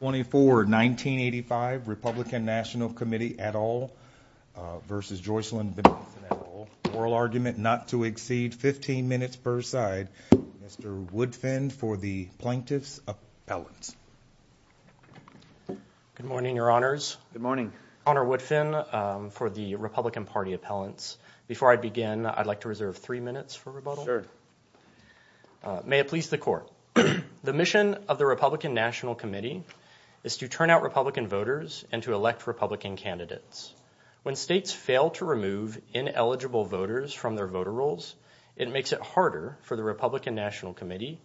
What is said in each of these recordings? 24, 1985, Republican National Committee et al. versus Jocelyn Benson et al., oral argument not to exceed 15 minutes per side. Mr. Woodfin for the Plaintiff's Appellants. Good morning, your honors. Good morning. Honor Woodfin for the Republican Party Appellants. Before I begin, I'd like to reserve three minutes for rebuttal. Sure. May it please the court. The mission of the Republican National Committee is to turn out Republican voters and to elect Republican candidates. When states fail to remove ineligible voters from their voter rolls, it makes it harder for the Republican National Committee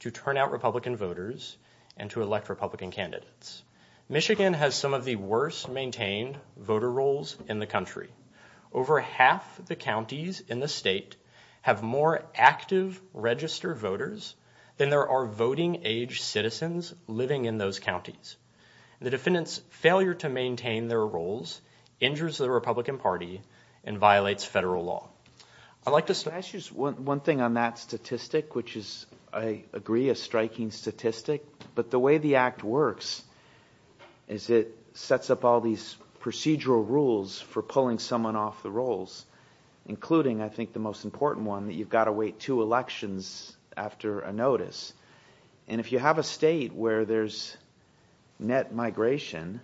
to turn out Republican voters and to elect Republican candidates. Michigan has some of the worst maintained voter rolls in the country. Over half the counties in the state have more active register voters than there are voting age citizens living in those counties. The defendant's failure to maintain their rolls injures the Republican Party and violates federal law. I'd like to start. Can I ask you one thing on that statistic, which is, I agree, a striking statistic, but the way the act works is it sets up all these procedural rules for pulling someone off the rolls, including, I think, the most important one, that you've got to wait two elections after a notice. And if you have a state where there's net migration,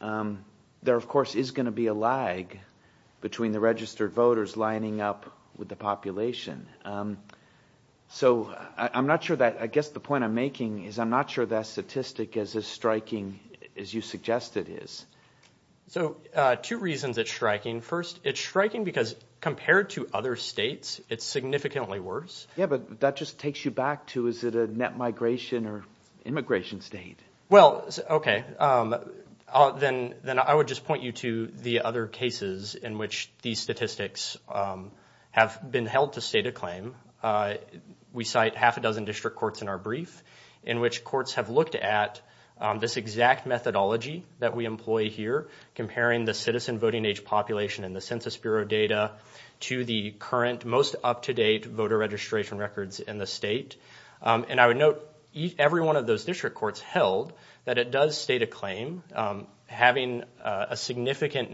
there, of course, is going to be a lag between the registered voters lining up with the population. So I'm not sure that, I guess the point I'm making is I'm not sure that statistic is as striking as you suggest it is. So two reasons it's striking. First, it's striking because compared to other states, it's significantly worse. Yeah, but that just takes you back to, is it a net migration or immigration state? Well, okay. Then I would just point you to the other cases in which these statistics have been held to state a claim. We cite half a dozen district courts in our brief in which district courts have looked at this exact methodology that we employ here, comparing the citizen voting age population and the Census Bureau data to the current most up-to-date voter registration records in the state. And I would note every one of those district courts held that it does state a claim, having a significantly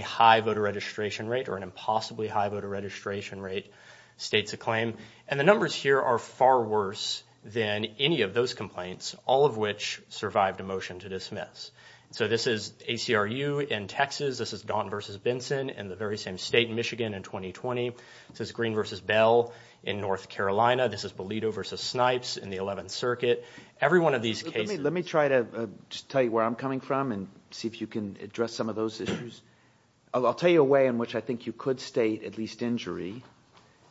high voter registration rate or an impossibly high voter registration rate states a claim. And the numbers here are far worse than any of those complaints, all of which survived a motion to dismiss. So this is ACRU in Texas. This is Gaunt v. Benson in the very same state, Michigan, in 2020. This is Green v. Bell in North Carolina. This is Bolido v. Snipes in the 11th Circuit. Every one of these cases- Let me try to just tell you where I'm coming from and see if you can address some of those issues. I'll tell you a way in which I think you could state at least injury.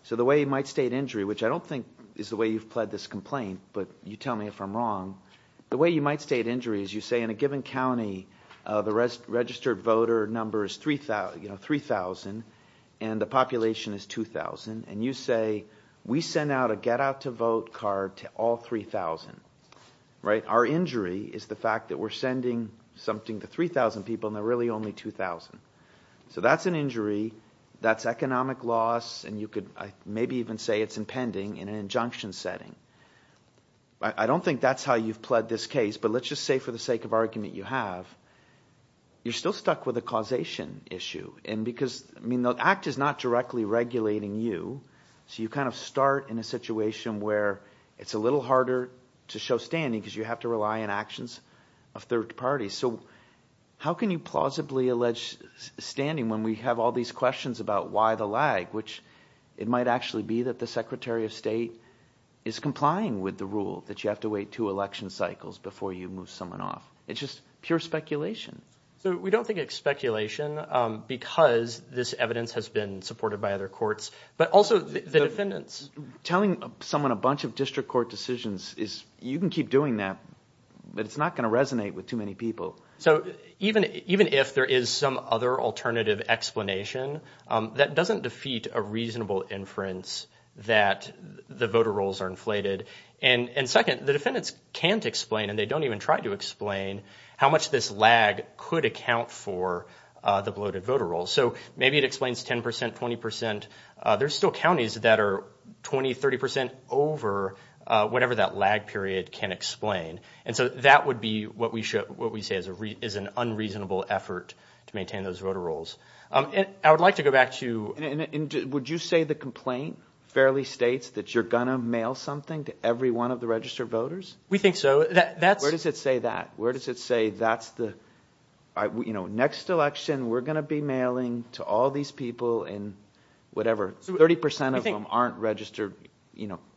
So the way you might state injury, which I don't think is the way you've pled this complaint, but you tell me if I'm wrong. The way you might state injury is you say in a given county the registered voter number is 3,000 and the population is 2,000. And you say, we send out a get out to vote card to all 3,000. Our injury is the fact that we're sending something to 3,000 people and there are really only 2,000. So that's an injury. That's economic loss and you could maybe even say it's impending in an injunction setting. I don't think that's how you've pled this case, but let's just say for the sake of argument you have, you're still stuck with a causation issue. And because the act is not directly regulating you, so you kind of start in a situation where it's a little harder to show standing because you have to rely on actions of third parties. So how can you plausibly allege standing when we have all these questions about why the lag, which it might actually be that the Secretary of State is complying with the rule that you have to wait two election cycles before you move someone off. It's just pure speculation. So we don't think it's speculation because this evidence has been supported by other courts, but also the defendants. Telling someone a bunch of district court decisions is, you can keep doing that, but it's not going to resonate with too many people. So even if there is some other alternative explanation, that doesn't defeat a reasonable inference that the voter rolls are inflated. And second, the defendants can't explain and they don't even try to explain how much this lag could account for the bloated voter rolls. So maybe it explains 10%, 20%. There's still counties that are 20, 30% over whatever that lag period can explain. And so that would be what we say is an unreasonable effort to maintain those voter rolls. I would like to go back to... Would you say the complaint fairly states that you're going to mail something to every one of the registered voters? We think so. Where does it say that? Where does it say, next election, we're going to be mailing to all these people in whatever, 30% of them aren't registered,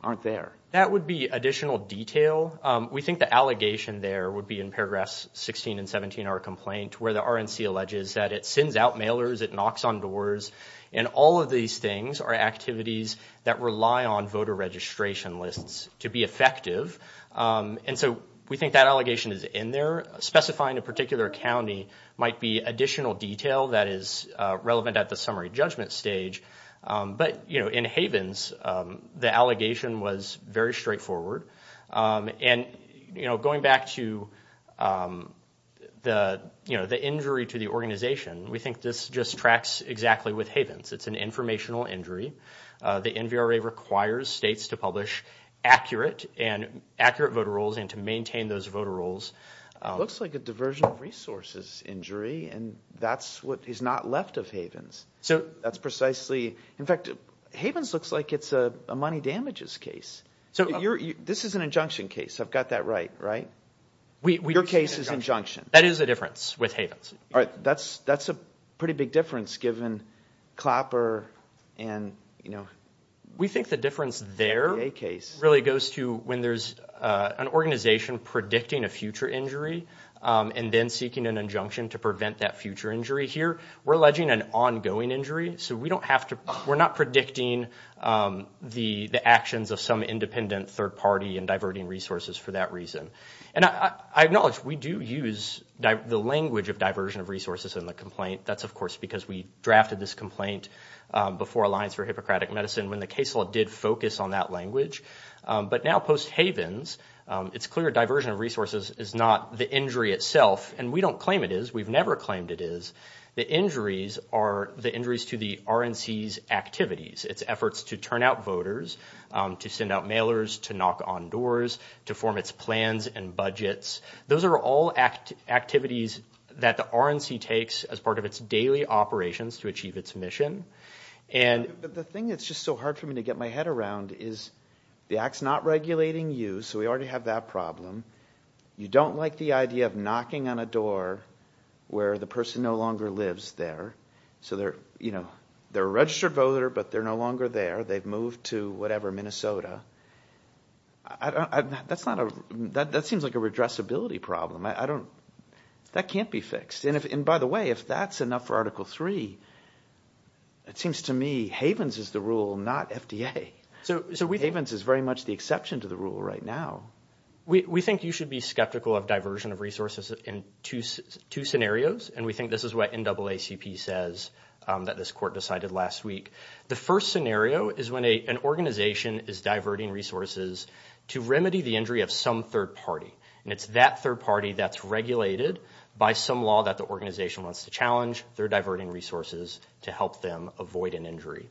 aren't there. That would be additional detail. We think the allegation there would be in paragraphs 16 and 17 of our complaint, where the RNC alleges that it sends out mailers, it knocks on doors, and all of these things are activities that rely on voter registration lists to be effective. And so we think that allegation is in there, specifying a particular county might be additional detail that is relevant at the summary judgment stage. But in Havens, the allegation was very straightforward. And going back to the injury to the organization, we think this just tracks exactly with Havens. It's an informational injury. The NVRA requires states to publish accurate voter rolls and to maintain those voter rolls. Looks like a diversion of resources injury, and that's what is not left of Havens. That's precisely, in fact, Havens looks like it's a money damages case. This is an injunction case, I've got that right, right? Your case is injunction. That is a difference with Havens. That's a pretty big difference given Clapper and, you know. We think the difference there really goes to when there's an organization predicting a future injury, and then seeking an injunction to prevent that future injury here, we're predicting an ongoing injury, so we don't have to, we're not predicting the actions of some independent third party in diverting resources for that reason. And I acknowledge we do use the language of diversion of resources in the complaint. That's of course because we drafted this complaint before Alliance for Hippocratic Medicine when the case law did focus on that language. But now post-Havens, it's clear diversion of resources is not the injury itself, and we don't claim it is. We've never claimed it is. The injuries are the injuries to the RNC's activities, its efforts to turn out voters, to send out mailers, to knock on doors, to form its plans and budgets. Those are all activities that the RNC takes as part of its daily operations to achieve its mission. And... But the thing that's just so hard for me to get my head around is the Act's not regulating you, so we already have that problem. You don't like the idea of knocking on a door where the person no longer lives there. So they're, you know, they're a registered voter, but they're no longer there. They've moved to whatever, Minnesota. That's not a... That seems like a redressability problem. I don't... That can't be fixed. And by the way, if that's enough for Article 3, it seems to me Havens is the rule, not FDA. Havens is very much the exception to the rule right now. We think you should be skeptical of diversion of resources in two scenarios, and we think this is what NAACP says that this court decided last week. The first scenario is when an organization is diverting resources to remedy the injury of some third party, and it's that third party that's regulated by some law that the organization wants to challenge. They're diverting resources to help them avoid an injury.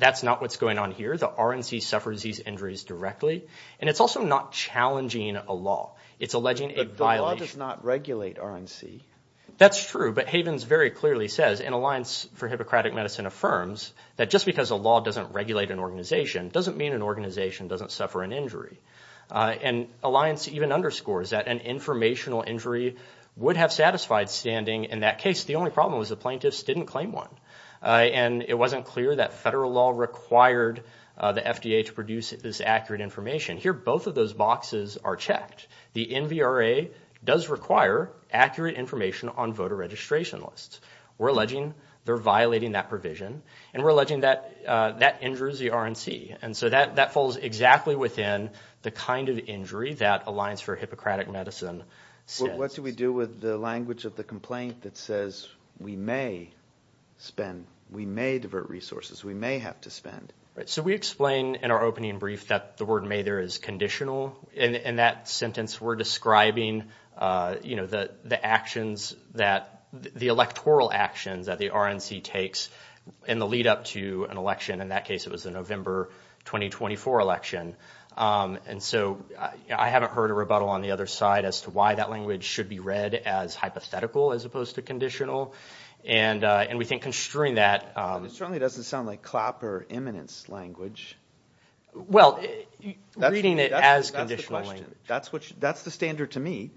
That's not what's going on here. The RNC suffers these injuries directly. And it's also not challenging a law. It's alleging a violation... But the law does not regulate RNC. That's true, but Havens very clearly says, and Alliance for Hippocratic Medicine affirms, that just because a law doesn't regulate an organization doesn't mean an organization doesn't suffer an injury. And Alliance even underscores that an informational injury would have satisfied standing in that case. The only problem was the plaintiffs didn't claim one. And it wasn't clear that federal law required the FDA to produce this accurate information. Here both of those boxes are checked. The NVRA does require accurate information on voter registration lists. We're alleging they're violating that provision, and we're alleging that that injures the RNC. And so that falls exactly within the kind of injury that Alliance for Hippocratic Medicine says. What do we do with the language of the complaint that says, we may spend, we may divert resources, we may have to spend? So we explain in our opening brief that the word may there is conditional. In that sentence we're describing the actions that, the electoral actions that the RNC takes in the lead up to an election, in that case it was the November 2024 election. And so I haven't heard a rebuttal on the other side as to why that language should be read as hypothetical as opposed to conditional. And we think construing that. It certainly doesn't sound like CLAP or imminence language. Well reading it as conditional language. That's the standard to me.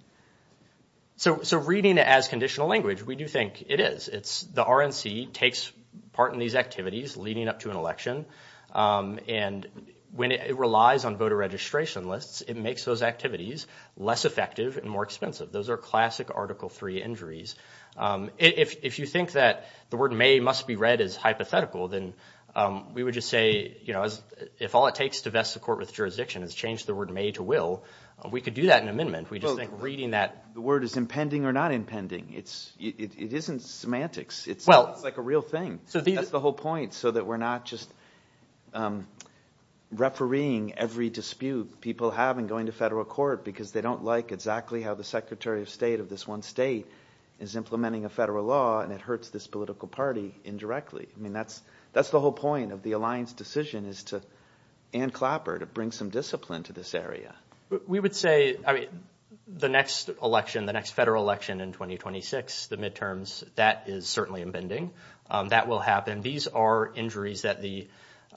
So reading it as conditional language, we do think it is. It's the RNC takes part in these activities leading up to an election. And when it relies on voter registration lists, it makes those activities less effective and more expensive. Those are classic Article III injuries. If you think that the word may must be read as hypothetical, then we would just say, you know, if all it takes to vest the court with jurisdiction is change the word may to will, we could do that in amendment. We just think reading that. Well, the word is impending or not impending. It isn't semantics. It's like a real thing. That's the whole point. So that we're not just refereeing every dispute people have in going to federal court because they don't like exactly how the Secretary of State of this one state is implementing a federal law and it hurts this political party indirectly. I mean, that's the whole point of the Alliance decision is to and CLAP or to bring some discipline to this area. We would say, I mean, the next election, the next federal election in 2026, the midterms, that is certainly impending. That will happen. These are injuries that the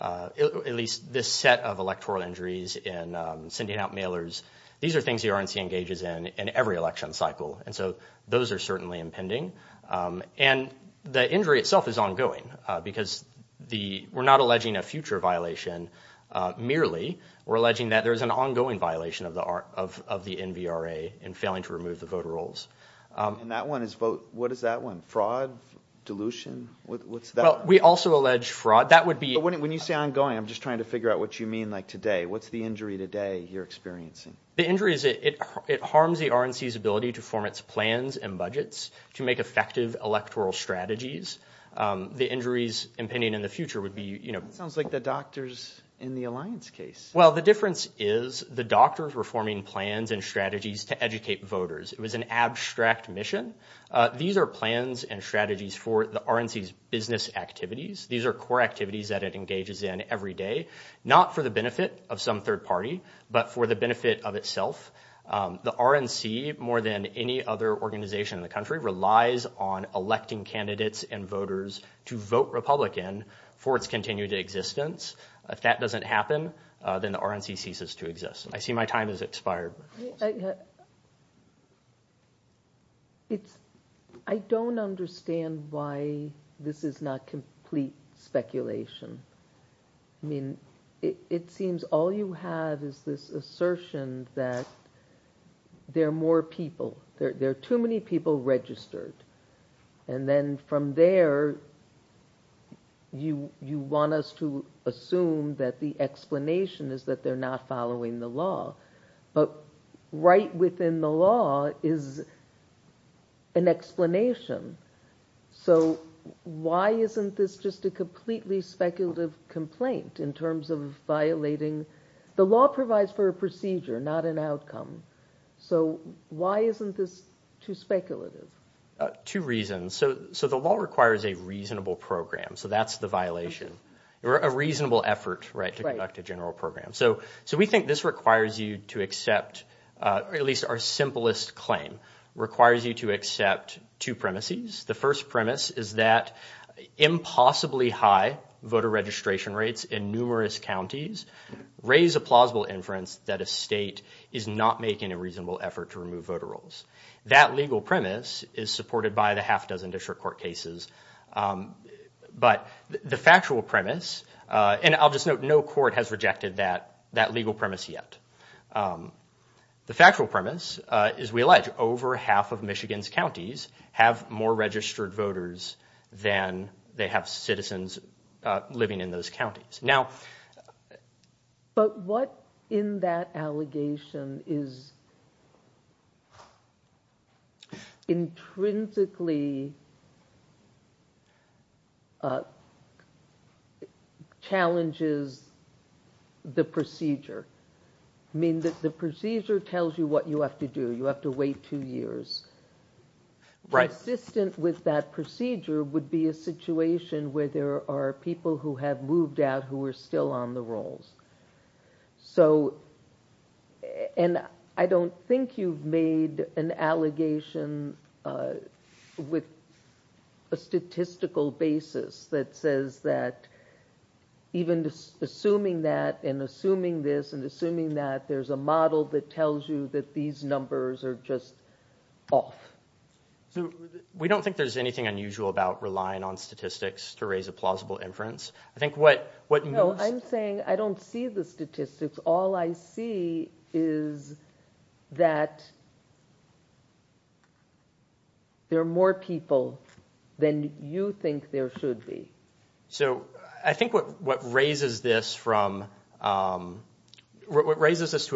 at least this set of electoral injuries in sending out mailers. These are things the RNC engages in in every election cycle. And so those are certainly impending. And the injury itself is ongoing because the we're not alleging a future violation merely. We're alleging that there is an ongoing violation of the of the NVRA in failing to remove the voter rolls. And that one is vote. What is that one? Fraud dilution. What's that? Well, we also allege fraud. That would be when you say I'm going, I'm just trying to figure out what you mean. Like today. What's the injury today? You're experiencing the injuries. It harms the RNC's ability to form its plans and budgets to make effective electoral strategies. The injuries impending in the future would be, you know, sounds like the doctors in the Alliance case. Well, the difference is the doctors were forming plans and strategies to educate voters. It was an abstract mission. These are plans and strategies for the RNC's business activities. These are core activities that it engages in every day, not for the benefit of some third party, but for the benefit of itself. The RNC, more than any other organization in the country, relies on electing candidates and voters to vote Republican for its continued existence. If that doesn't happen, then the RNC ceases to exist. I see my time has expired. I don't understand why this is not complete speculation. I mean, it seems all you have is this assertion that there are more people, there are too many people registered. And then from there, you want us to assume that the explanation is that they're not following the law. But right within the law is an explanation. So why isn't this just a completely speculative complaint in terms of violating? The law provides for a procedure, not an outcome. So why isn't this too speculative? Two reasons. So the law requires a reasonable program. So that's the violation, or a reasonable effort to conduct a general program. So we think this requires you to accept, at least our simplest claim, requires you to accept two premises. The first premise is that impossibly high voter registration rates in numerous counties raise a plausible inference that a state is not making a reasonable effort to remove voter rolls. That legal premise is supported by the half dozen district court cases. But the factual premise, and I'll just note, no court has rejected that legal premise yet. The factual premise is we allege over half of Michigan's counties have more registered voters than they have citizens living in those counties. Now... But what in that allegation is intrinsically challenges the procedure? I mean, the procedure tells you what you have to do. You have to wait two years. Right. And consistent with that procedure would be a situation where there are people who have moved out who are still on the rolls. So... And I don't think you've made an allegation with a statistical basis that says that even assuming that, and assuming this, and assuming that, there's a model that tells you that these numbers are just off. So we don't think there's anything unusual about relying on statistics to raise a plausible inference. I think what... No, I'm saying I don't see the statistics. All I see is that there are more people than you think there should be. So I think what raises this to a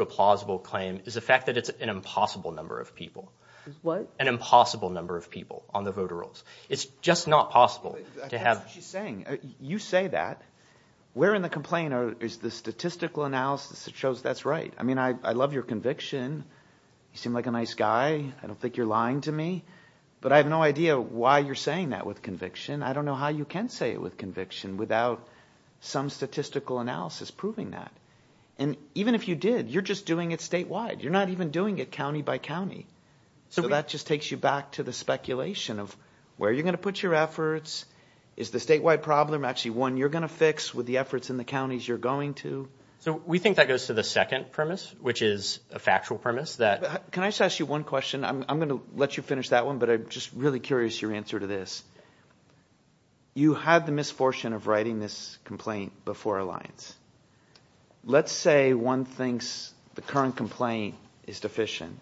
plausible claim is the fact that it's an impossible number of people. Is what? An impossible number of people on the voter rolls. It's just not possible to have... I think that's what she's saying. You say that. Where in the complaint is the statistical analysis that shows that's right? I mean, I love your conviction. You seem like a nice guy. I don't think you're lying to me. But I have no idea why you're saying that with conviction. I don't know how you can say it with conviction without some statistical analysis proving that. And even if you did, you're just doing it statewide. You're not even doing it county by county. So that just takes you back to the speculation of where you're going to put your efforts. Is the statewide problem actually one you're going to fix with the efforts in the counties you're going to? So we think that goes to the second premise, which is a factual premise that... Can I just ask you one question? I'm going to let you finish that one, but I'm just really curious your answer to this. You had the misfortune of writing this complaint before Alliance. Let's say one thinks the current complaint is deficient,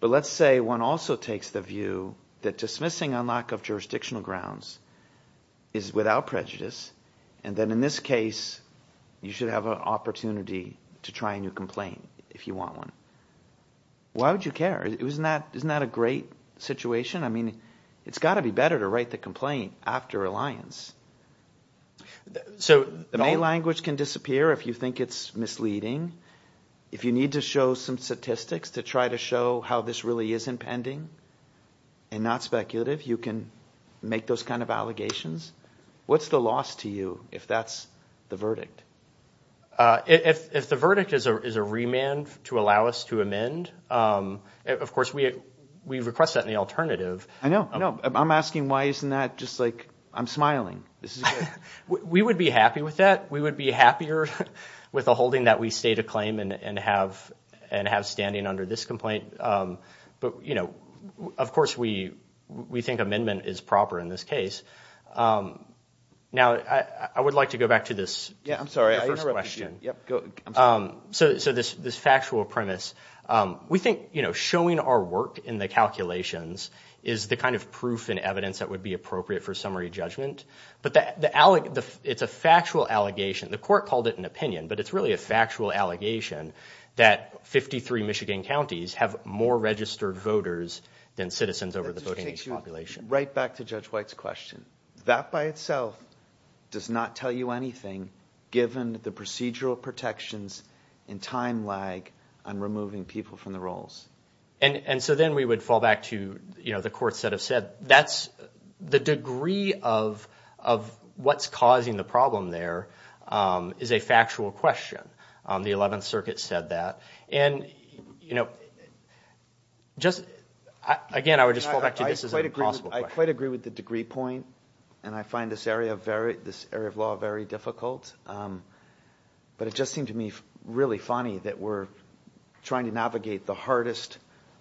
but let's say one also takes the view that dismissing on lack of jurisdictional grounds is without prejudice, and then in this case, you should have an opportunity to try a new complaint if you want one. Why would you care? Isn't that a great situation? I mean, it's got to be better to write the complaint after Alliance. So... The main language can disappear if you think it's misleading. If you need to show some statistics to try to show how this really is impending, and not speculative, you can make those kind of allegations. What's the loss to you if that's the verdict? If the verdict is a remand to allow us to amend, of course, we request that in the alternative. I know, I know. I'm asking why isn't that just like, I'm smiling. We would be happy with that. We would be happier with a holding that we state a claim and have standing under this But, you know, of course, we think amendment is proper in this case. Now, I would like to go back to this first question. So this factual premise, we think, you know, showing our work in the calculations is the kind of proof and evidence that would be appropriate for summary judgment. But it's a factual allegation. The court called it an opinion, but it's really a factual allegation that 53 Michigan counties have more registered voters than citizens over the voting age population. Right back to Judge White's question. That by itself does not tell you anything, given the procedural protections and time lag on removing people from the rolls. And so then we would fall back to, you know, the courts that have said that's the degree of what's causing the problem there is a factual question. The 11th Circuit said that. And, you know, just again, I would just fall back to this as a possible question. I quite agree with the degree point. And I find this area of law very difficult. But it just seemed to me really funny that we're trying to navigate the hardest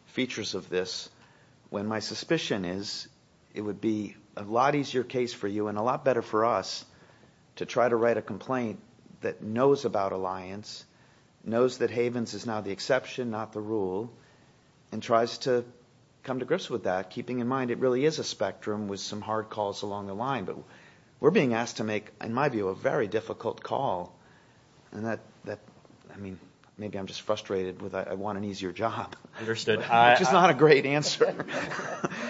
features of this when my suspicion is it would be a lot easier case for you and a lot better for us to try to write a complaint that knows about Alliance, knows that Havens is now the exception, not the rule, and tries to come to grips with that, keeping in mind it really is a spectrum with some hard calls along the line. But we're being asked to make, in my view, a very difficult call. And that, I mean, maybe I'm just frustrated with I want an easier job, which is not a great answer.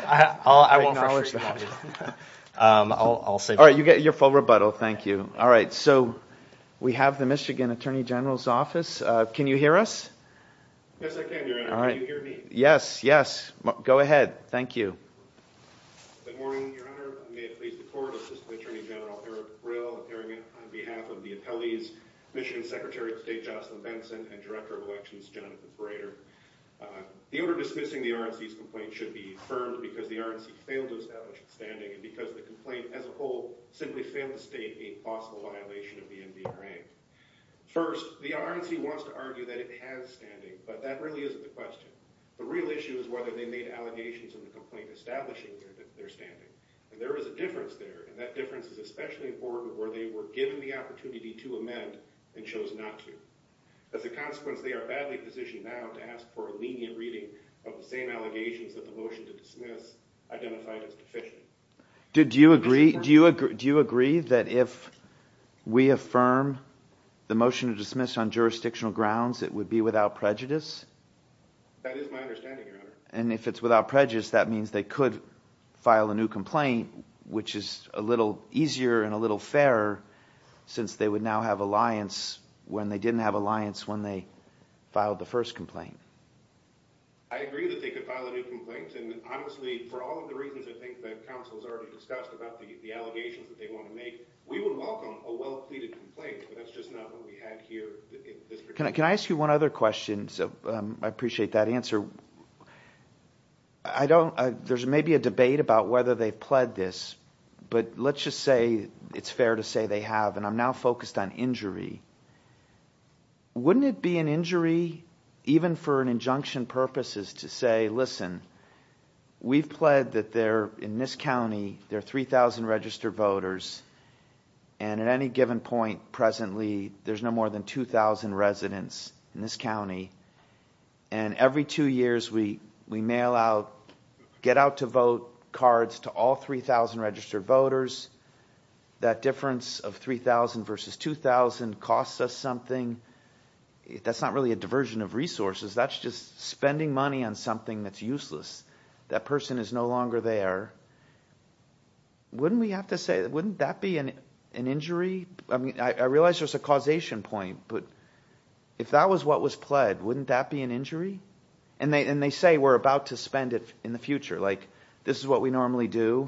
I'll acknowledge that. I won't frustrate you. I'll say that. All right. You get your full rebuttal. Thank you. All right. So we have the Michigan Attorney General's office. Can you hear us? Yes, I can, Your Honor. Can you hear me? Yes. Yes. Go ahead. Thank you. Good morning, Your Honor. I may have pleased the court, Assistant Attorney General Eric Brill, appearing on behalf of the appellees, Michigan Secretary of State Jocelyn Benson, and Director of Elections Jonathan Frater. The order dismissing the RNC's complaint should be affirmed because the RNC failed to establish its standing, and because the complaint as a whole simply failed to state a possible violation of the NBAA. First, the RNC wants to argue that it has standing, but that really isn't the question. The real issue is whether they made allegations in the complaint establishing their standing. And there is a difference there, and that difference is especially important where they were given the opportunity to amend and chose not to. As a consequence, they are badly positioned now to ask for a lenient reading of the same allegations that the motion to dismiss identified as deficient. Do you agree that if we affirm the motion to dismiss on jurisdictional grounds, it would be without prejudice? That is my understanding, Your Honor. And if it's without prejudice, that means they could file a new complaint, which is a little easier and a little fairer, since they would now have alliance when they didn't have alliance when they filed the first complaint. I agree that they could file a new complaint, and honestly, for all of the reasons I think that counsel has already discussed about the allegations that they want to make, we would welcome a well-pleaded complaint, but that's just not what we had here. Can I ask you one other question? I appreciate that answer. There's maybe a debate about whether they've pled this, but let's just say it's fair to say they have, and I'm now focused on injury. Wouldn't it be an injury, even for an injunction purposes, to say, listen, we've pled that in this county, there are 3,000 registered voters, and at any given point presently, there's no more than 2,000 residents in this county. And every two years, we mail out get-out-to-vote cards to all 3,000 registered voters. That difference of 3,000 versus 2,000 costs us something. That's not really a diversion of resources. That's just spending money on something that's useless. That person is no longer there. Wouldn't we have to say, wouldn't that be an injury? I realize there's a causation point, but if that was what was pled, wouldn't that be an injury? And they say we're about to spend it in the future, like, this is what we normally do,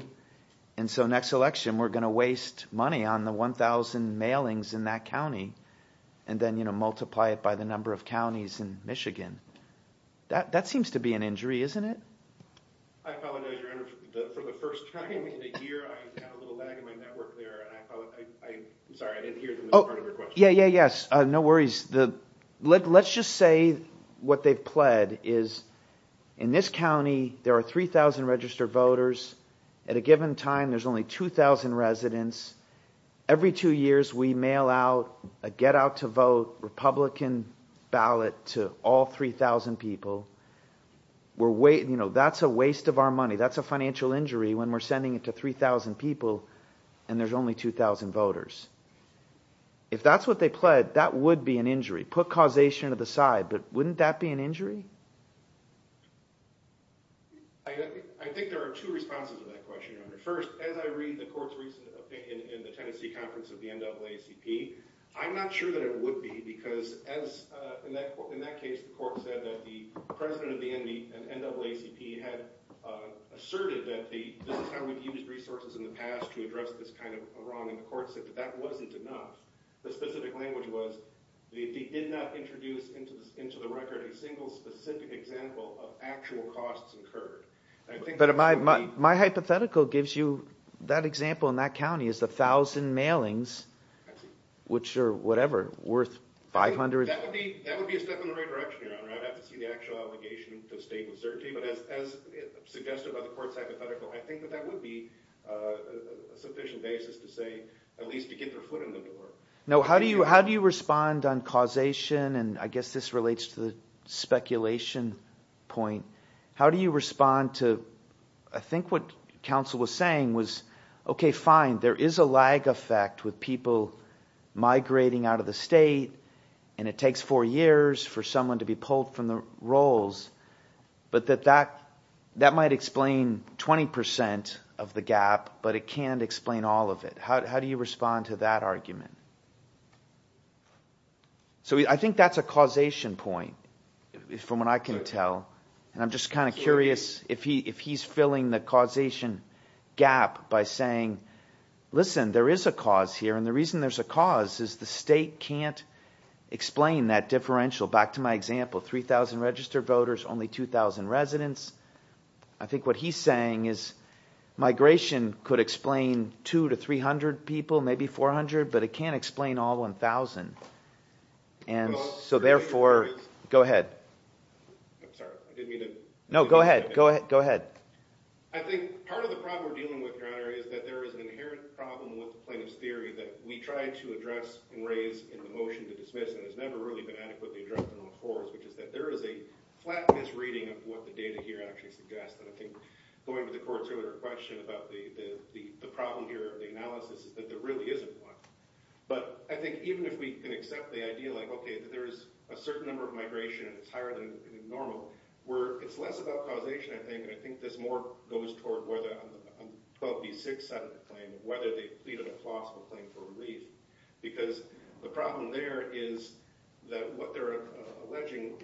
and so next election, we're going to waste money on the 1,000 mailings in that county, and then multiply it by the number of counties in Michigan. That seems to be an injury, isn't it? I apologize, Your Honor. For the first time in a year, I had a little lag in my network there, and I'm sorry, I didn't hear the part of your question. Yes, no worries. Let's just say what they've pled is, in this county, there are 3,000 registered voters. At a given time, there's only 2,000 residents. Every two years, we mail out a get-out-to-vote Republican ballot to all 3,000 people. That's a waste of our money. That's a financial injury when we're sending it to 3,000 people, and there's only 2,000 voters. If that's what they pled, that would be an injury. Put causation to the side, but wouldn't that be an injury? I think there are two responses to that question, Your Honor. First, as I read the court's recent opinion in the Tennessee Conference of the NAACP, I'm not sure that it would be, because in that case, the court said that the president of the NAACP had asserted that this is how we've used resources in the past to address this kind of wrong, and the court said that that wasn't enough. The specific language was that they did not introduce into the record a single specific example of actual costs incurred. But my hypothetical gives you that example in that county is 1,000 mailings, which are whatever, worth $500. That would be a step in the right direction, Your Honor. I'd have to see the actual obligation to state with certainty, but as suggested by the court's hypothetical, I think that that would be a sufficient basis to say at least to get their foot in the door. How do you respond on causation, and I guess this relates to the speculation point. How do you respond to, I think what counsel was saying was, okay, fine, there is a lag effect with people migrating out of the state, and it takes four years for someone to be pulled from the rolls, but that might explain 20% of the gap, but it can't explain all of it. How do you respond to that argument? So I think that's a causation point, from what I can tell. And I'm just kind of curious if he's filling the causation gap by saying, listen, there is a cause here, and the reason there's a cause is the state can't explain that differential. Back to my example, 3,000 registered voters, only 2,000 residents. I think what he's saying is migration could explain 2 to 300 people, maybe 400, but it can't explain all 1,000. And so therefore, go ahead. No, go ahead, go ahead. I think part of the problem we're dealing with, Your Honor, is that there is an inherent problem with plaintiff's theory that we tried to address and raise in the motion to dismiss, and it's never really been adequately addressed in all fours, which is that there is a flat misreading of what the data here actually suggests. And I think going to the court's earlier question about the problem here, the analysis, is that there really isn't one. But I think even if we can accept the idea like, okay, there is a certain number of migration, and it's higher than normal, it's less about causation, I think, and I think this more goes toward whether a 12B6 settlement claim, whether they plead a plausible claim for relief. Because the problem there is that what they're alleging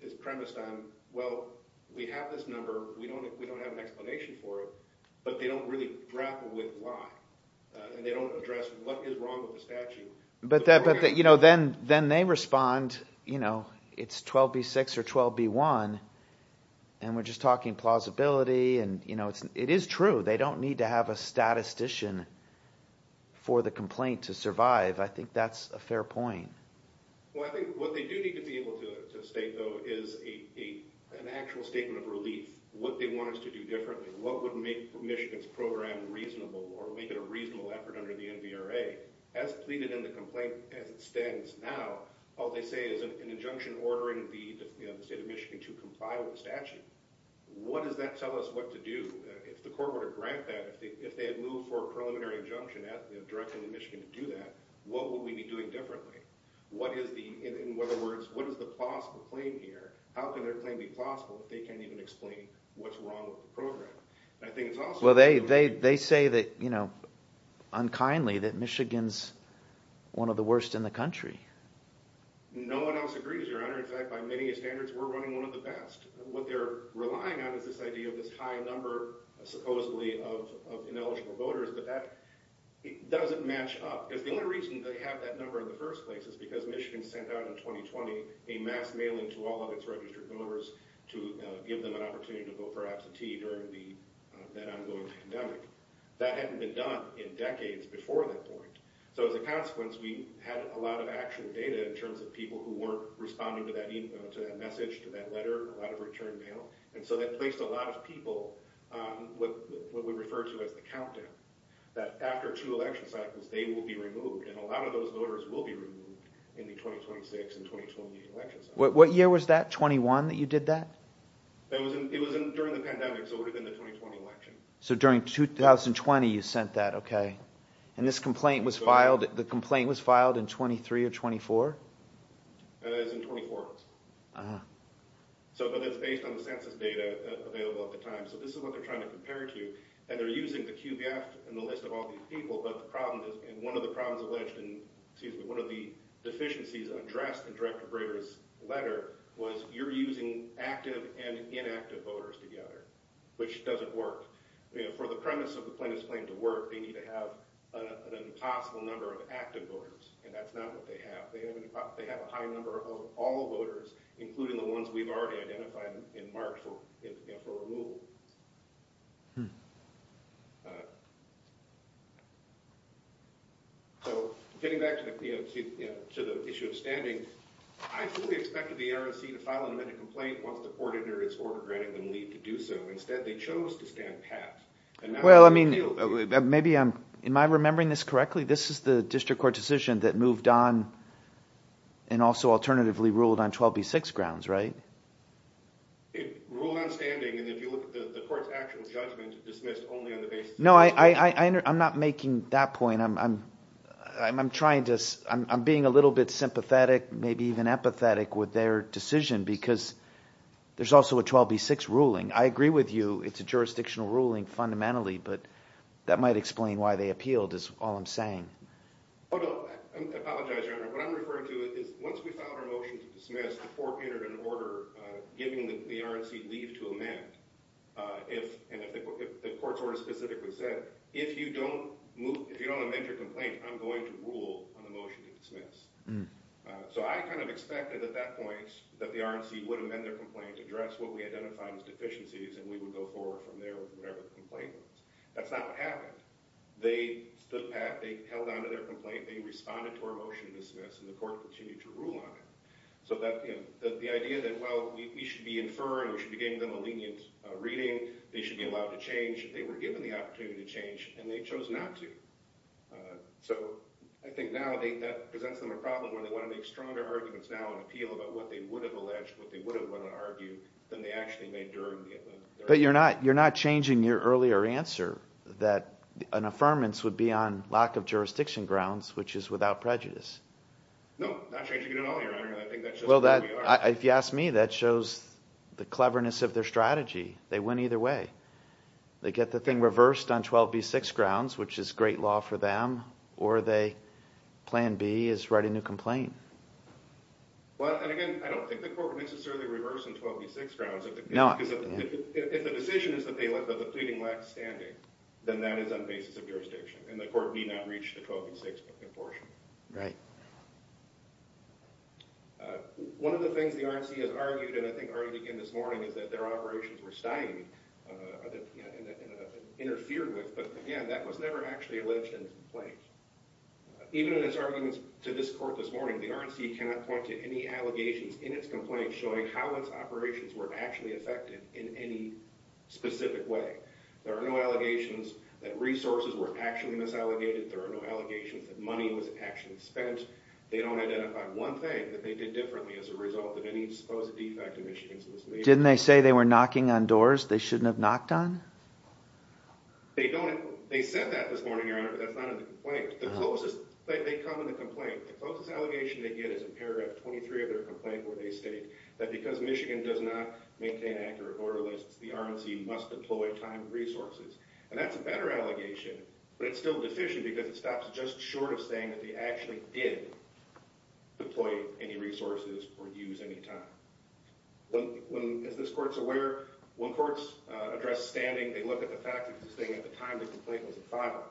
is premised on, well, we have this number, we don't have an explanation for it, but they don't really grapple with why. And they don't address what is wrong with the statute. But then they respond, you know, it's 12B6 or 12B1, and we're just talking plausibility, and it is true. They don't need to have a statistician for the complaint to survive. I think that's a fair point. Well, I think what they do need to be able to state, though, is an actual statement of relief, what they want us to do differently, what would make Michigan's program reasonable, or make it a reasonable effort under the NVRA, as pleaded in the complaint as it stands now, all they say is an injunction ordering the state of Michigan to comply with the statute. What does that tell us what to do? If the court were to grant that, if they had moved for a preliminary injunction directly to Michigan to do that, what would we be doing differently? In other words, what is the plausible claim here? How can their claim be plausible if they can't even explain what's wrong with the program? Well, they say that, you know, unkindly, that Michigan's one of the worst in the country. No one else agrees, Your Honor. In fact, by many standards, we're running one of the best. What they're relying on is this idea of this high number, supposedly, of ineligible voters, but that doesn't match up. The only reason they have that number in the first place is because Michigan sent out in 2020 a mass mailing to all of its registered voters to give them an opportunity to vote for absentee during that ongoing pandemic. That hadn't been done in decades before that point. So as a consequence, we had a lot of actual data in terms of people who weren't responding to that message, to that letter, a lot of return mail, and so that placed a lot of people on what we refer to as the countdown, that after two election cycles, they will be removed, and a lot of those voters will be removed in the 2026 and 2020 election cycles. What year was that, 21, that you did that? It was during the pandemic, so it would have been the 2020 election. So during 2020, you sent that, okay. And this complaint was filed, the complaint was filed in 23 or 24? It was in 24. But that's based on the census data available at the time. So this is what they're trying to compare to, and they're using the QBF and the list of all these people, but the problem is, and one of the problems alleged in, excuse me, one of the deficiencies addressed in Director Brader's letter was you're using active and inactive voters together, which doesn't work. For the premise of the plaintiff's claim to work, they need to have an impossible number of active voters, and that's not what they have. They have a high number of all voters, including the ones we've already identified and marked for removal. So getting back to the issue of standing, I fully expected the NRC to file an amended complaint once the court entered its order granting them leave to do so. Instead, they chose to stand pat. Well, I mean, maybe I'm, am I remembering this correctly? This is the district court decision that moved on and also alternatively ruled on 12B6 grounds, right? It ruled on standing, and if you look at the court's actual judgment, it dismissed only on the basis of standing. No, I'm not making that point. I'm trying to, I'm being a little bit sympathetic. Maybe even empathetic with their decision because there's also a 12B6 ruling. I agree with you, it's a jurisdictional ruling fundamentally, but that might explain why they appealed is all I'm saying. Oh, no, I apologize, Your Honor. What I'm referring to is once we filed our motion to dismiss, the court entered an order giving the NRC leave to amend. If, and the court's order specifically said, if you don't move, if you don't amend your complaint, I'm going to rule on the motion to dismiss. So I kind of expected at that point that the RNC would amend their complaint, address what we identified as deficiencies, and we would go forward from there with whatever the complaint was. That's not what happened. They stood back, they held on to their complaint, they responded to our motion to dismiss, and the court continued to rule on it. So the idea that, well, we should be inferring, we should be giving them a lenient reading, they should be allowed to change. They were given the opportunity to change, and they chose not to. So I think now that presents them a problem where they want to make stronger arguments now and appeal about what they would have alleged, what they would have wanted to argue, than they actually made during the event. But you're not changing your earlier answer that an affirmance would be on lack of jurisdiction grounds, which is without prejudice. No, not changing it at all, Your Honor, and I think that's just the way we are. If you ask me, that shows the cleverness of their strategy. They went either way. They get the thing reversed on 12b-6 grounds, which is great law for them, or they, plan B, is write a new complaint. Well, and again, I don't think the court would necessarily reverse on 12b-6 grounds. No. Because if the decision is that the pleading lacks standing, then that is on basis of jurisdiction, and the court need not reach the 12b-6 portion. Right. One of the things the RNC has argued, and I think argued again this morning, is that their operations were stymied and interfered with. But again, that was never actually alleged in the complaint. Even in its arguments to this court this morning, the RNC cannot point to any allegations in its complaint showing how its operations were actually affected in any specific way. There are no allegations that resources were actually misallegated. There are no allegations that money was actually spent. They don't identify one thing that they did differently as a result of any supposed defect in Michigan's legislation. Didn't they say they were knocking on doors they shouldn't have knocked on? They don't. They said that this morning, Your Honor, but that's not in the complaint. They come in the complaint. The closest allegation they get is in paragraph 23 of their complaint where they state that because Michigan does not maintain accurate order lists, the RNC must deploy timed resources. And that's a better allegation, but it's still deficient because it stops just short of saying that they actually did deploy any resources or use any time. As this court's aware, when courts address standing, they look at the fact that this thing at the time the complaint was filed.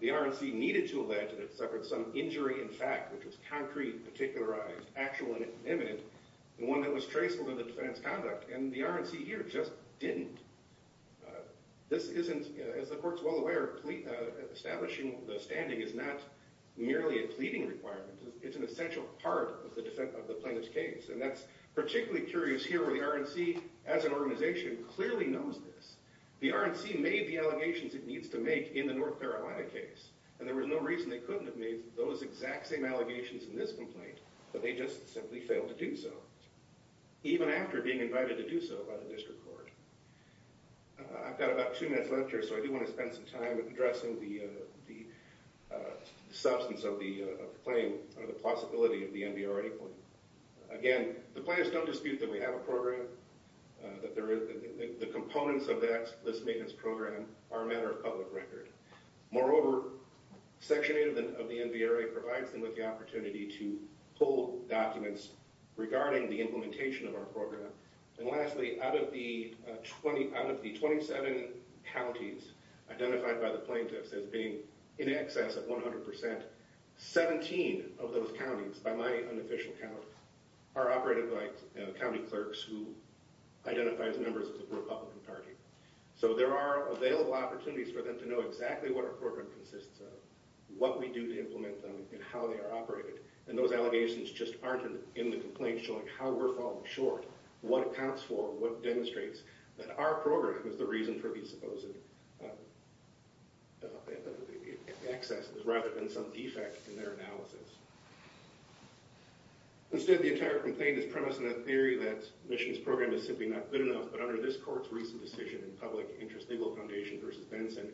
The RNC needed to allege that it suffered some injury in fact, which was concrete, particularized, actual, and imminent, and one that was traceable to the defendant's conduct. And the RNC here just didn't. This isn't, as the court's well aware, establishing the standing is not merely a pleading requirement. It's an essential part of the plaintiff's case. And that's particularly curious here where the RNC, as an organization, clearly knows this. The RNC made the allegations it needs to make in the North Carolina case, and there was no reason they couldn't have made those exact same allegations in this complaint, but they just simply failed to do so. Even after being invited to do so by the district court. I've got about two minutes left here, so I do want to spend some time addressing the substance of the claim, or the possibility of the NBRA claim. Again, the plaintiffs don't dispute that we have a program that there is. The components of this maintenance program are a matter of public record. Moreover, Section 8 of the NBRA provides them with the opportunity to hold documents regarding the implementation of our program. And lastly, out of the 27 counties identified by the plaintiffs as being in excess of 100%, 17 of those counties, by my unofficial count, are operated by county clerks who identify as members of the Republican Party. So there are available opportunities for them to know exactly what our program consists of, what we do to implement them, and how they are operated. And those allegations just aren't in the complaint showing how we're falling short, what accounts for, what demonstrates that our program is the reason for these supposed excesses, rather than some defect in their analysis. Instead, the entire complaint is premised on the theory that Mission's program is simply not good enough. But under this court's recent decision in Public Interest Legal Foundation v. Benson,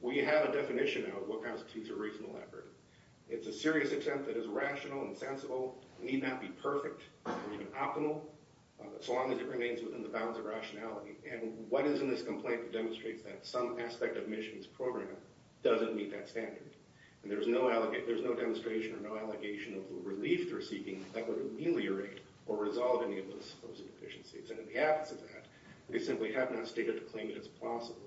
we have a definition now of what constitutes a reasonable effort. It's a serious attempt that is rational and sensible, need not be perfect or even optimal, so long as it remains within the bounds of rationality. And what is in this complaint demonstrates that some aspect of Mission's program doesn't meet that standard. And there's no demonstration or no allegation of the relief they're seeking that would ameliorate or resolve any of those supposed deficiencies. And in the absence of that, they simply have not stated the claim that it's possible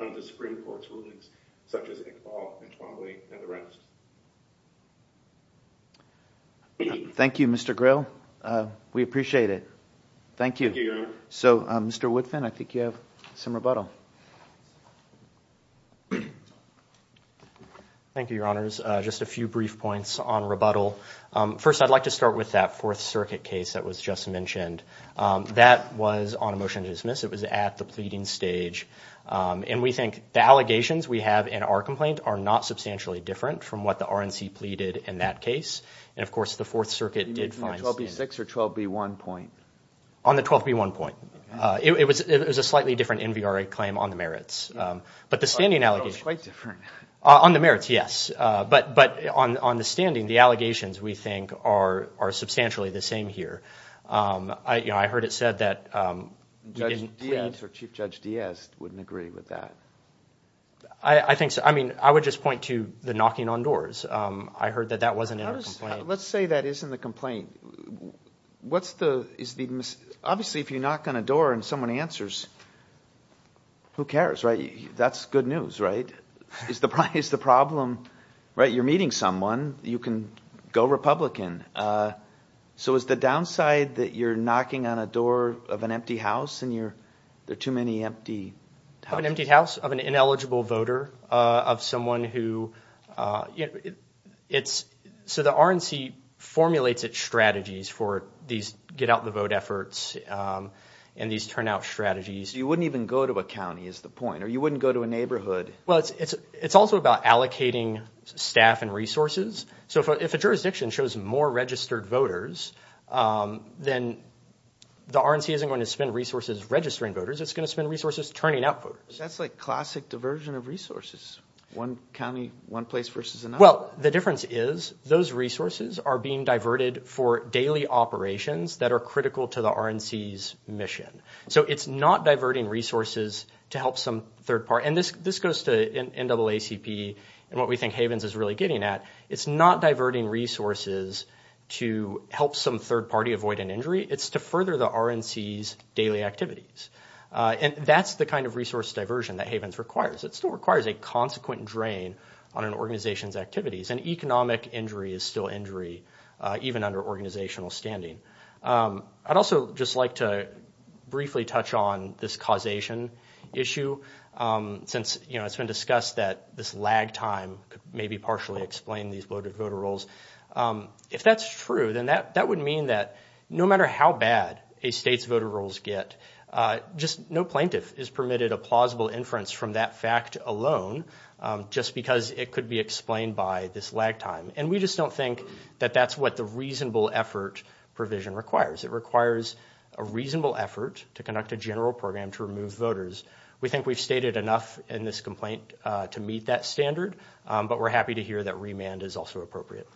under the Supreme Court's rulings, such as Iqbal, Antwane, and the rest. Thank you, Mr. Grill. We appreciate it. Thank you. So, Mr. Woodfin, I think you have some rebuttal. Thank you, Your Honors. Just a few brief points on rebuttal. First, I'd like to start with that Fourth Circuit case that was just mentioned. That was on a motion to dismiss. It was at the pleading stage. And we think the allegations we have in our complaint are not substantially different from what the RNC pleaded in that case. And, of course, the Fourth Circuit did find standards. On the 12B1 point? On the 12B1 point. It was a slightly different NVRA claim on the merits. On the merits, yes. But on the standing, the allegations, we think, are substantially the same here. I heard it said that Chief Judge Diaz wouldn't agree with that. I think so. I would just point to the knocking on doors. I heard that that wasn't in our complaint. Let's say that is in the complaint. Obviously, if you knock on a door and someone answers, who cares, right? That's good news, right? You're meeting someone. You can go Republican. So is the downside that you're knocking on a door of an empty house? There are too many empty houses. Of an empty house? Of an ineligible voter? So the RNC formulates its strategies for these get-out-the-vote efforts and these turn-out strategies. You wouldn't even go to a county, is the point. Or you wouldn't go to a neighborhood. Well, it's also about allocating staff and resources. So if a jurisdiction shows more registered voters, then the RNC isn't going to spend resources registering voters. It's going to spend resources turning out voters. That's like classic diversion of resources. One county, one place versus another. Well, the difference is, those resources are being diverted for daily operations that are critical to the RNC's mission. So it's not diverting resources to help some third party. And this goes to NAACP and what we think Havens is really getting at. It's not diverting resources to help some third party avoid an injury. It's to further the RNC's daily activities. And that's the kind of resource diversion that Havens requires. It still requires a consequent drain on an organization's activities. And economic injury is still injury even under organizational standing. I'd also just like to briefly touch on this causation issue since it's been discussed that this lag time could maybe partially explain these voter rolls. If that's true, then that would mean that no matter how bad a state's voter rolls get, just no plaintiff is permitted a plausible inference from that fact alone just because it could be explained by this lag time. And we just don't think that that's what the reasonable effort provision requires. It requires a reasonable effort to conduct a general program to remove voters. We think we've stated enough in this complaint to meet that standard, but we're happy to hear that remand is also appropriate.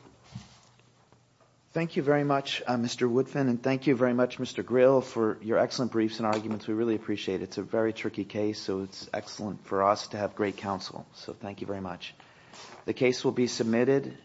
Thank you very much, Mr. Woodfin, and thank you very much, Mr. Grill, for your excellent briefs and arguments. We really appreciate it. It's a very tricky case, so it's excellent for us to have great counsel. So thank you very much. The case will be submitted.